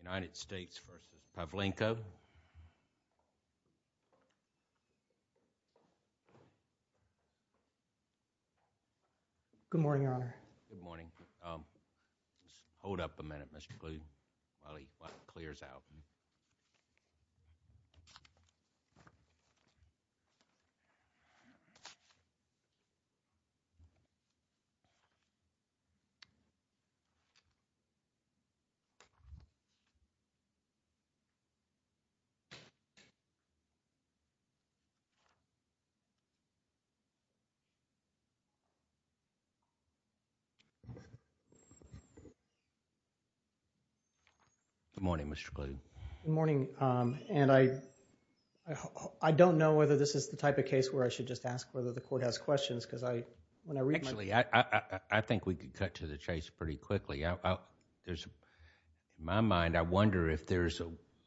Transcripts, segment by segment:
United States v. Pavlenko Good morning, Your Honor. Hold up a minute, Mr. Gleeson, while he clears out. Good morning, Mr. Gleeson. I don't know whether this is the type of case where I should just ask whether the court has questions because when I read my... Actually, I think we could cut to the chase pretty quickly. In my mind, I wonder if there's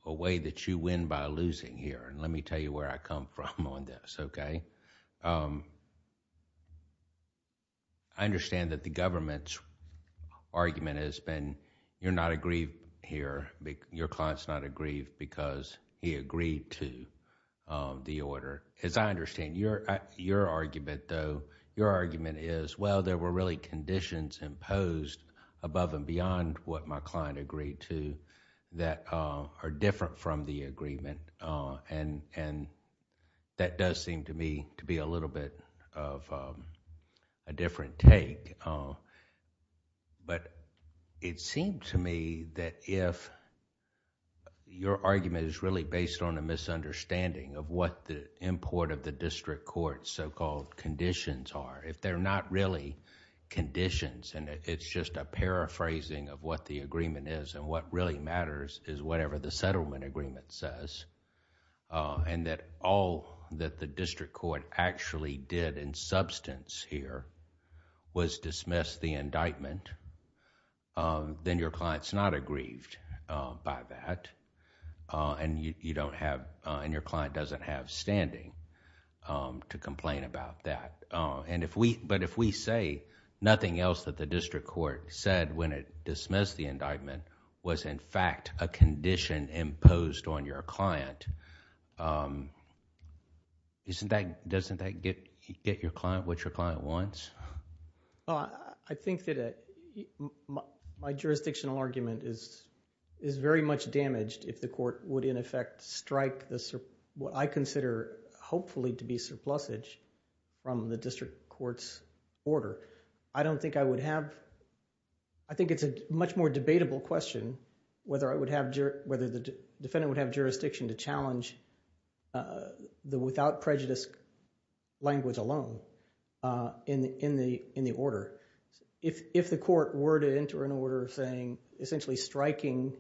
a way that you win by losing here. Let me tell you where I come from on this, okay? I understand that the government's argument has been, you're not aggrieved here. Your client's not aggrieved because he agreed to the order. As I understand, your argument, though, your argument is, well, there were really conditions imposed above and beyond what my client agreed to that are different from the agreement. And that does seem to me to be a little bit of a different take. But it seems to me that if your argument is really based on a misunderstanding of what the import of the district court's so-called conditions are, if they're not really conditions and it's just a paraphrasing of what the agreement is and what really matters is whatever the settlement agreement says and that all that the district court actually did in substance here was dismiss the indictment, then your client's not aggrieved by that and your client doesn't have standing to complain about that. But if we say nothing else that the district court said when it dismissed the indictment was in fact a condition imposed on your client, doesn't that get what your client wants? Well, I think that my jurisdictional argument is very much damaged if the court would in effect strike what I consider hopefully to be surplusage from the district court's order. I don't think I would have... I think it's a much more debatable question whether the defendant would have jurisdiction to challenge the without prejudice language alone in the order. If the court were to enter an order saying essentially striking,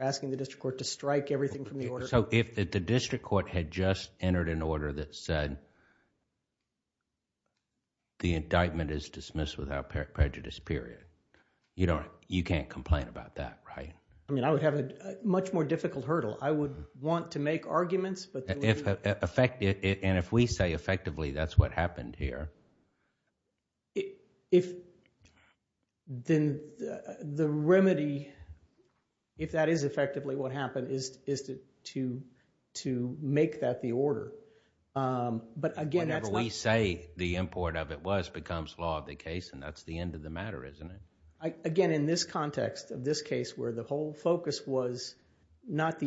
asking the district court to strike everything from the order... So if the district court had just entered an order that said the indictment is dismissed without prejudice period, you can't complain about that, right? I mean, I would have a much more difficult hurdle. I would want to make arguments but... And if we say effectively that's what happened here... Then the remedy, if that is effectively what happened, is to make that the order. But again, that's not... Whenever we say the import of it was becomes law of the case and that's the end of the matter, isn't it? Again, in this context of this case where the whole focus was not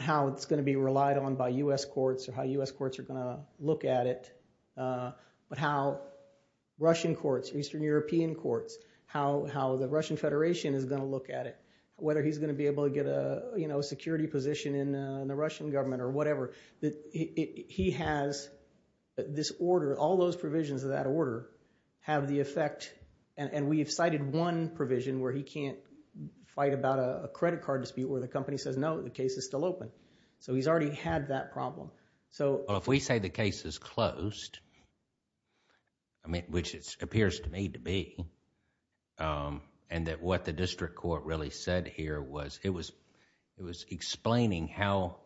how it's going to be relied on by U.S. courts or how U.S. courts are going to look at it, but how Russian courts, Eastern European courts, how the Russian Federation is going to look at it, whether he's going to be able to get a security position in the Russian government or whatever. He has this order. All those provisions of that order have the effect... And we have cited one provision where he can't fight about a credit card dispute where the company says, no, the case is still open. So he's already had that problem. So... Well, if we say the case is closed, which it appears to me to be, and that what the district court really said here was it was explaining how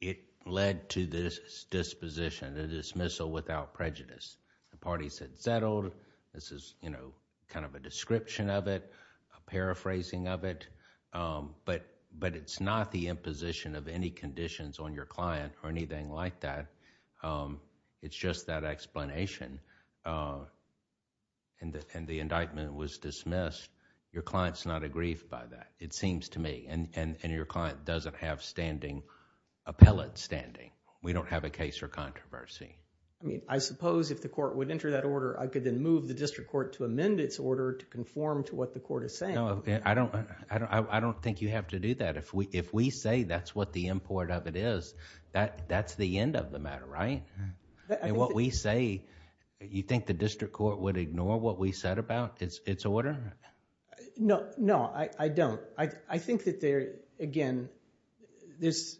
it led to this disposition, the dismissal without prejudice. The parties had settled. This is kind of a description of it, a paraphrasing of it. But it's not the imposition of any conditions on your client or anything like that. It's just that explanation. And the indictment was dismissed. Your client's not aggrieved by that, it seems to me. And your client doesn't have standing, appellate standing. We don't have a case for controversy. I mean, I suppose if the court would enter that order, I could then move the district court to amend its order to conform to what the court is saying. I don't think you have to do that. If we say that's what the import of it is, that's the end of the matter, right? What we say... You think the district court would ignore what we said about its order? No. No, I don't. I think that, again, this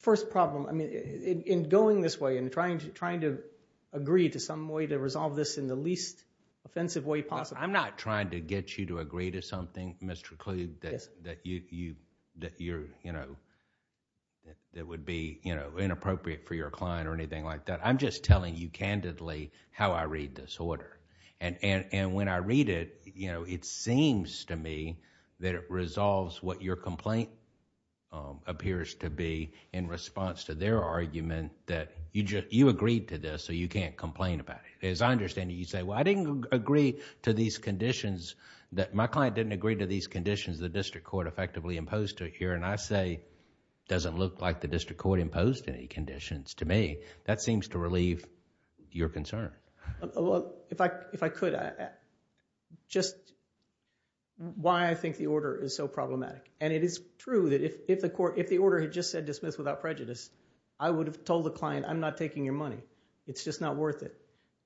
first problem, in going this way and trying to agree to some way to resolve this in the least offensive way possible... I'm not trying to get you to agree to something, Mr. Kluge, that would be inappropriate for your client or anything like that. I'm just telling you candidly how I read this order. When I read it, it seems to me that it resolves what your complaint appears to be in response to their argument that you agreed to this so you can't complain about it. As I understand it, you say, well, I didn't agree to these conditions, that my client didn't agree to these conditions the district court effectively imposed here. I say, doesn't look like the district court imposed any conditions to me. That seems to relieve your concern. If I could, just why I think the order is so problematic. It is true that if the order had just said dismiss without prejudice, I would have told the client, I'm not taking your money. It's just not worth it.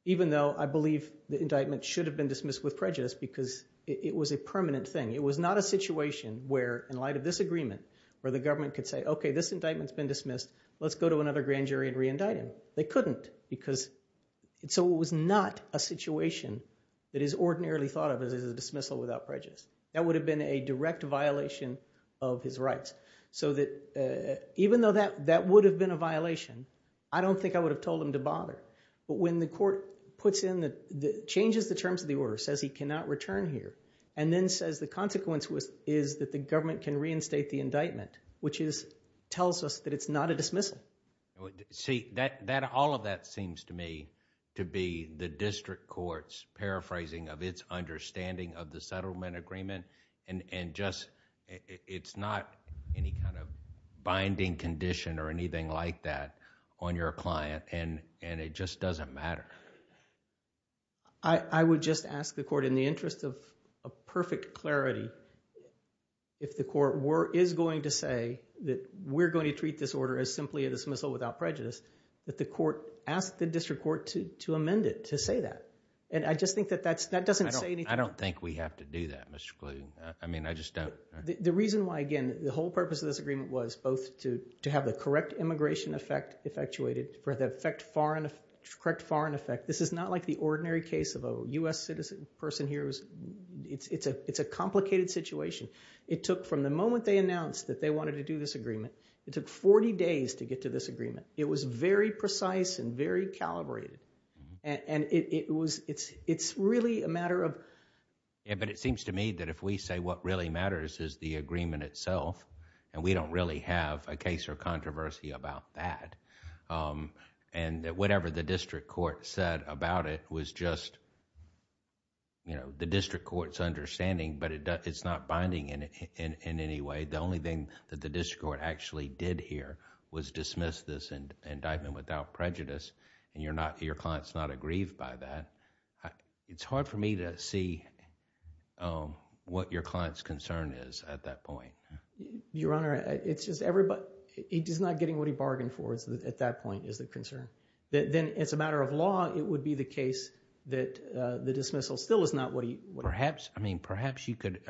Even though I believe the indictment should have been dismissed with prejudice because it was a permanent thing. It was not a situation where, in light of this agreement, where the government could say, okay, this indictment's been dismissed. Let's go to another grand jury and reindict him. They couldn't. So it was not a situation that is ordinarily thought of as a dismissal without prejudice. That would have been a direct violation of his rights. So even though that would have been a violation, I don't think I would have told him to bother. But when the court changes the terms of the order, says he cannot return here, and then says the consequence is that the government can reinstate the indictment, which tells us that it's not a dismissal. See, all of that seems to me to be the district court's paraphrasing of its understanding of the settlement agreement, and just it's not any kind of binding condition or anything like that on your client, and it just doesn't matter. I would just ask the court, in the interest of perfect clarity, if the court is going to say that we're going to treat this order as simply a dismissal without prejudice, that the court ask the district court to amend it to say that. And I just think that that doesn't say anything. I don't think we have to do that, Mr. Kluge. I mean, I just don't. The reason why, again, the whole purpose of this agreement was both to have the correct immigration effect effectuated for the correct foreign effect. This is not like the ordinary case of a U.S. citizen person here. It's a complicated situation. It took, from the moment they announced that they wanted to do this agreement, it took 40 days to get to this agreement. It was very precise and very calibrated, and it's really a matter of... Yeah, but it seems to me that if we say what really matters is the agreement itself, and we don't really have a case or controversy about that, and whatever the district court said about it was just the district court's understanding, but it's not binding in any way. The only thing that the district court actually did here was dismiss this indictment without prejudice, and your client's not aggrieved by that. It's hard for me to see what your client's concern is at that point. Your Honor, it's just everybody... He's not getting what he bargained for at that point is the concern. Then, as a matter of law, it would be the case that the dismissal still is not what he... Perhaps you could...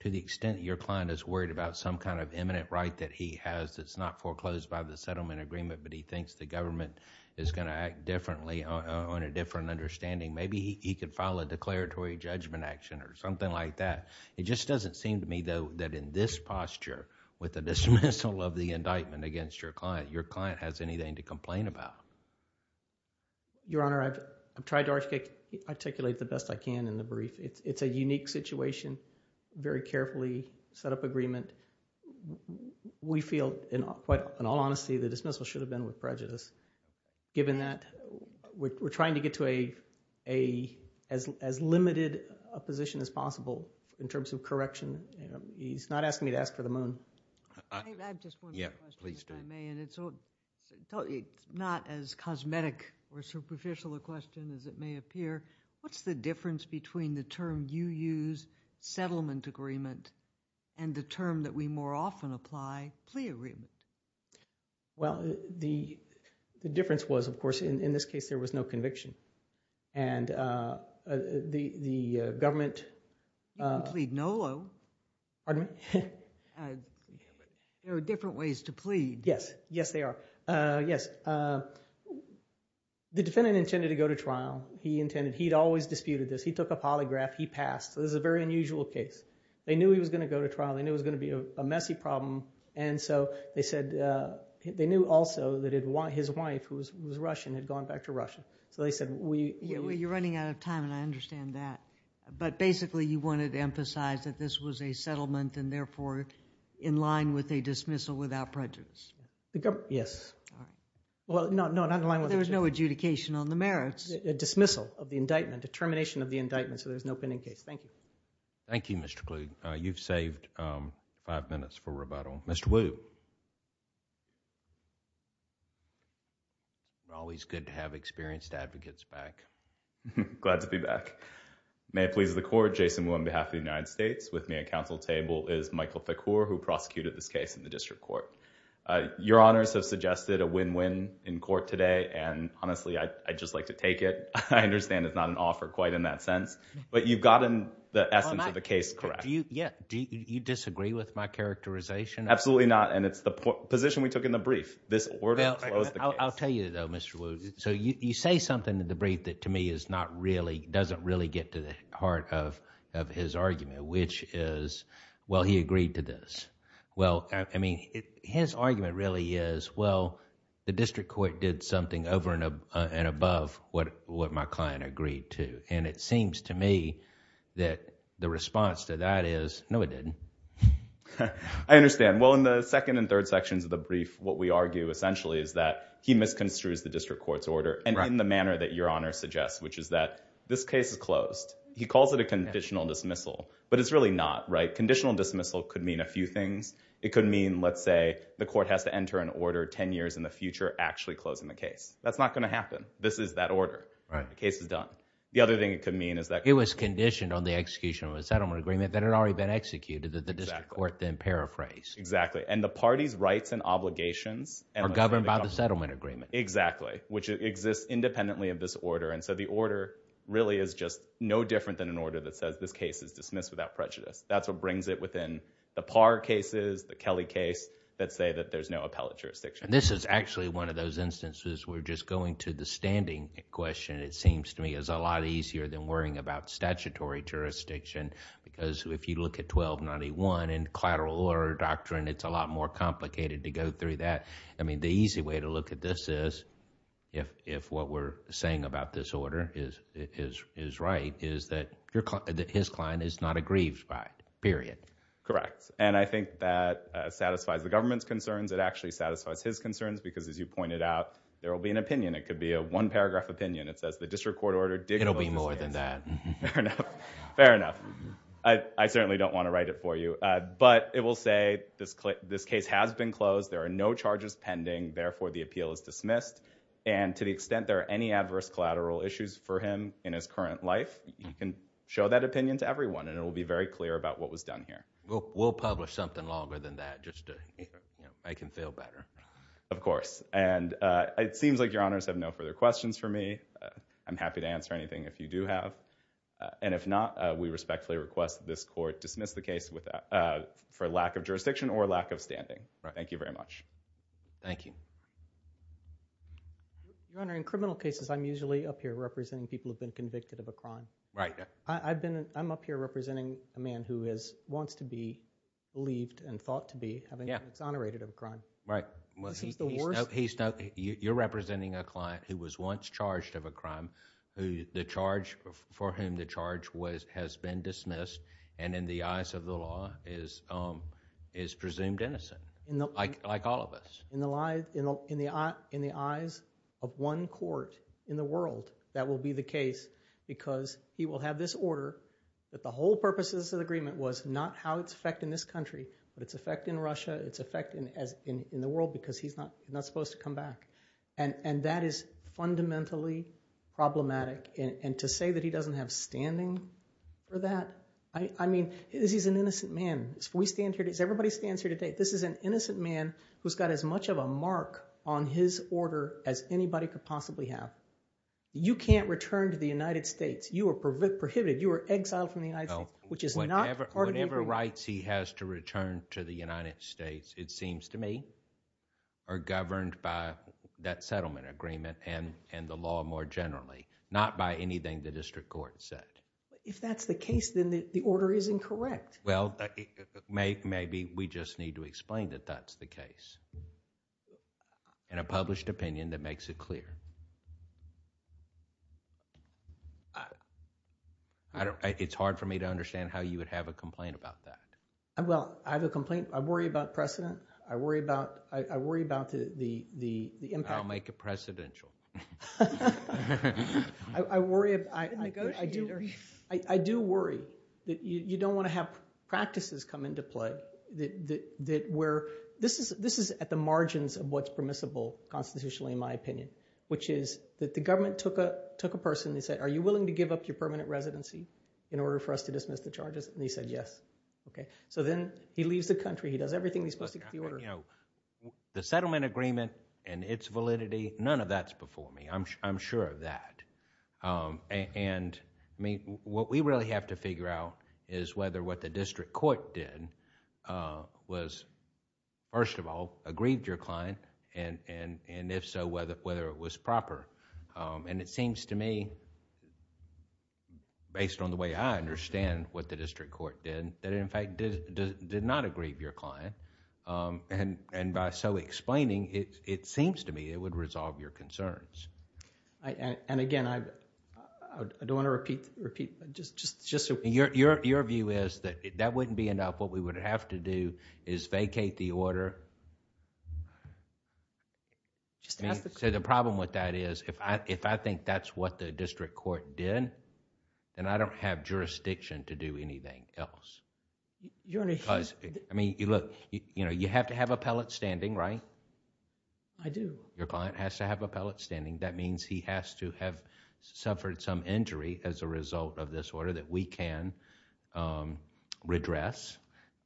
To the extent your client is worried about some kind of imminent right that he has that's not foreclosed by the settlement agreement but he thinks the government is going to act differently on a different understanding, maybe he could file a declaratory judgment action or something like that. It just doesn't seem to me, though, that in this posture with the dismissal of the indictment against your client, your client has anything to complain about. Your Honor, I've tried to articulate the best I can in the brief. It's a unique situation, very carefully set up agreement. We feel, in all honesty, the dismissal should have been with prejudice given that we're trying to get to as limited a position as possible in terms of correction. He's not asking me to ask for the moon. I have just one question, if I may, and it's not as cosmetic or superficial a question as it may appear. What's the difference between the term you use, settlement agreement, and the term that we more often apply, plea agreement? Well, the difference was, of course, in this case there was no conviction. And the government... You can plead NOLO. Pardon me? There are different ways to plead. Yes, yes, there are. Yes, the defendant intended to go to trial. He intended. He'd always disputed this. He took a polygraph. He passed. This is a very unusual case. They knew he was going to go to trial. They knew it was going to be a messy problem. And so they said they knew also that his wife, who was Russian, had gone back to Russia. So they said we... You're running out of time, and I understand that. But basically you wanted to emphasize that this was a settlement and therefore in line with a dismissal without prejudice. Yes. No, not in line with a dismissal. A dismissal of the indictment, a termination of the indictment, so there's no pending case. Thank you. Thank you, Mr. Kluge. You've saved five minutes for rebuttal. Mr. Wu. Always good to have experienced advocates back. Glad to be back. May it please the Court, Jason Wu on behalf of the United States. With me at council table is Michael Thakur, who prosecuted this case in the district court. Your Honors have suggested a win-win in court today, and honestly I'd just like to take it. I understand it's not an offer quite in that sense, but you've gotten the essence of the case correct. Do you disagree with my characterization? Absolutely not, and it's the position we took in the brief. This order follows the case. I'll tell you, though, Mr. Wu, so you say something in the brief that to me is not really, doesn't really get to the heart of his argument, which is, well, he agreed to this. Well, I mean, his argument really is, well, the district court did something over and above what my client agreed to, and it seems to me that the response to that is, no, it didn't. I understand. Well, in the second and third sections of the brief, what we argue essentially is that he misconstrues the district court's order, and in the manner that Your Honor suggests, which is that this case is closed. He calls it a conditional dismissal, but it's really not, right? Conditional dismissal could mean a few things. It could mean, let's say, the court has to enter an order 10 years in the future actually closing the case. That's not going to happen. This is that order. The case is done. The other thing it could mean is that- It was conditioned on the execution of a settlement agreement that had already been executed that the district court then paraphrased. Exactly, and the party's rights and obligations- Are governed by the settlement agreement. Exactly, which exists independently of this order, and so the order really is just no different than an order that says this case is dismissed without prejudice. That's what brings it within the Parr cases, the Kelly case, that say that there's no appellate jurisdiction. This is actually one of those instances where just going to the standing question, it seems to me, is a lot easier than worrying about statutory jurisdiction because if you look at 1291 and collateral order doctrine, it's a lot more complicated to go through that. I mean, the easy way to look at this is, if what we're saying about this order is right, is that his client is not aggrieved by it, period. Correct, and I think that satisfies the government's concerns. It actually satisfies his concerns because, as you pointed out, there will be an opinion. It could be a one-paragraph opinion. It says the district court ordered- It'll be more than that. Fair enough. I certainly don't want to write it for you, but it will say this case has been closed. There are no charges pending. Therefore, the appeal is dismissed, and to the extent there are any adverse collateral issues for him in his current life, you can show that opinion to everyone, and it will be very clear about what was done here. We'll publish something longer than that just to make him feel better. Of course, and it seems like your honors have no further questions for me. I'm happy to answer anything if you do have, and if not, we respectfully request that this court dismiss the case for lack of jurisdiction or lack of standing. Thank you very much. Thank you. Your Honor, in criminal cases, I'm usually up here representing people who've been convicted of a crime. Right. I'm up here representing a man who wants to be believed and thought to be having been exonerated of a crime. Right. This is the worst- You're representing a client who was once charged of a crime, for whom the charge has been dismissed, and in the eyes of the law is presumed innocent, like all of us. In the eyes of one court in the world, that will be the case because he will have this order that the whole purposes of the agreement was not how it's affecting this country, but it's affecting Russia, it's affecting the world, because he's not supposed to come back. And that is fundamentally problematic. And to say that he doesn't have standing for that, I mean, he's an innocent man. Everybody stands here today. This is an innocent man who's got as much of a mark on his order as anybody could possibly have. You can't return to the United States. You are prohibited. You are exiled from the United States, which is not part of the agreement. Whatever rights he has to return to the United States, it seems to me, are governed by that settlement agreement and the law more generally, not by anything the district court said. If that's the case, then the order is incorrect. Well, maybe we just need to explain that that's the case in a published opinion that makes it clear. It's hard for me to understand how you would have a complaint about that. Well, I have a complaint. I worry about precedent. I worry about the impact. I'll make it precedential. I do worry that you don't want to have practices come into play. This is at the margins of what's permissible constitutionally, in my opinion, which is that the government took a person and said, are you willing to give up your permanent residency in order for us to dismiss the charges? And he said yes. So then he leaves the country. He does everything he's supposed to do with the order. The settlement agreement and its validity, none of that's before me. I'm sure of that. What we really have to figure out is whether what the district court did was, first of all, aggrieved your client and if so, whether it was proper. It seems to me, based on the way I understand what the district court did, that in fact did not aggrieve your client. By so explaining, it seems to me it would resolve your concerns. Again, I don't want to repeat... Your view is that that wouldn't be enough. What we would have to do is vacate the order. The problem with that is if I think that's what the district court did, then I don't have jurisdiction to do anything else. You have to have a pellet standing, right? I do. Your client has to have a pellet standing. That means he has to have suffered some injury as a result of this order that we can redress.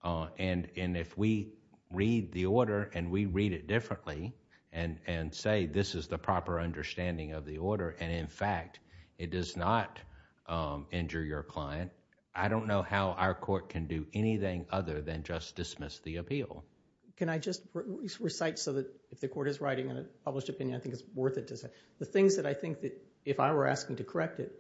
If we read the order and we read it differently and say this is the proper understanding of the order and in fact, it does not injure your client, I don't know how our court can do anything other than just dismiss the appeal. Can I just recite so that if the court is writing a published opinion, I think it's worth it to say. The things that I think that if I were asking to correct it,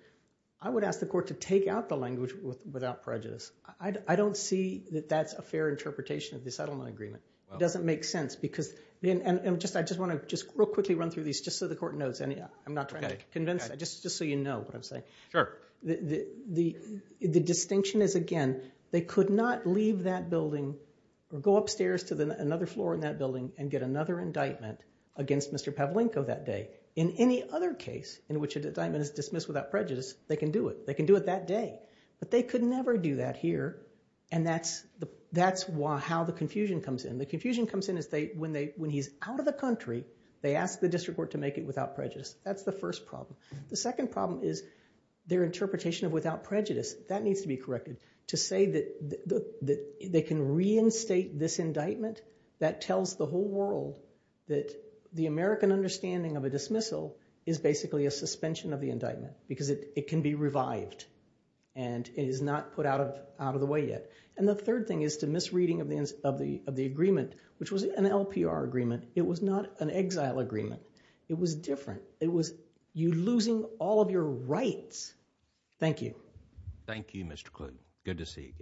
I would ask the court to take out the language without prejudice. I don't see that that's a fair interpretation of the settlement agreement. It doesn't make sense because... I just want to real quickly run through these just so the court knows. I'm not trying to convince. Just so you know what I'm saying. Sure. The distinction is, again, they could not leave that building or go upstairs to another floor in that building and get another indictment against Mr. Pavlenko that day. In any other case in which an indictment is dismissed without prejudice, they can do it. They can do it that day. But they could never do that here and that's how the confusion comes in. The confusion comes in is when he's out of the country, they ask the district court to make it without prejudice. That's the first problem. The second problem is their interpretation of without prejudice. That needs to be corrected. To say that they can reinstate this indictment, that tells the whole world that the American understanding of a dismissal is basically a suspension of the indictment because it can be revived and is not put out of the way yet. And the third thing is the misreading of the agreement, which was an LPR agreement. It was not an exile agreement. It was different. It was you losing all of your rights. Thank you. Thank you, Mr. Klug. Good to see you again.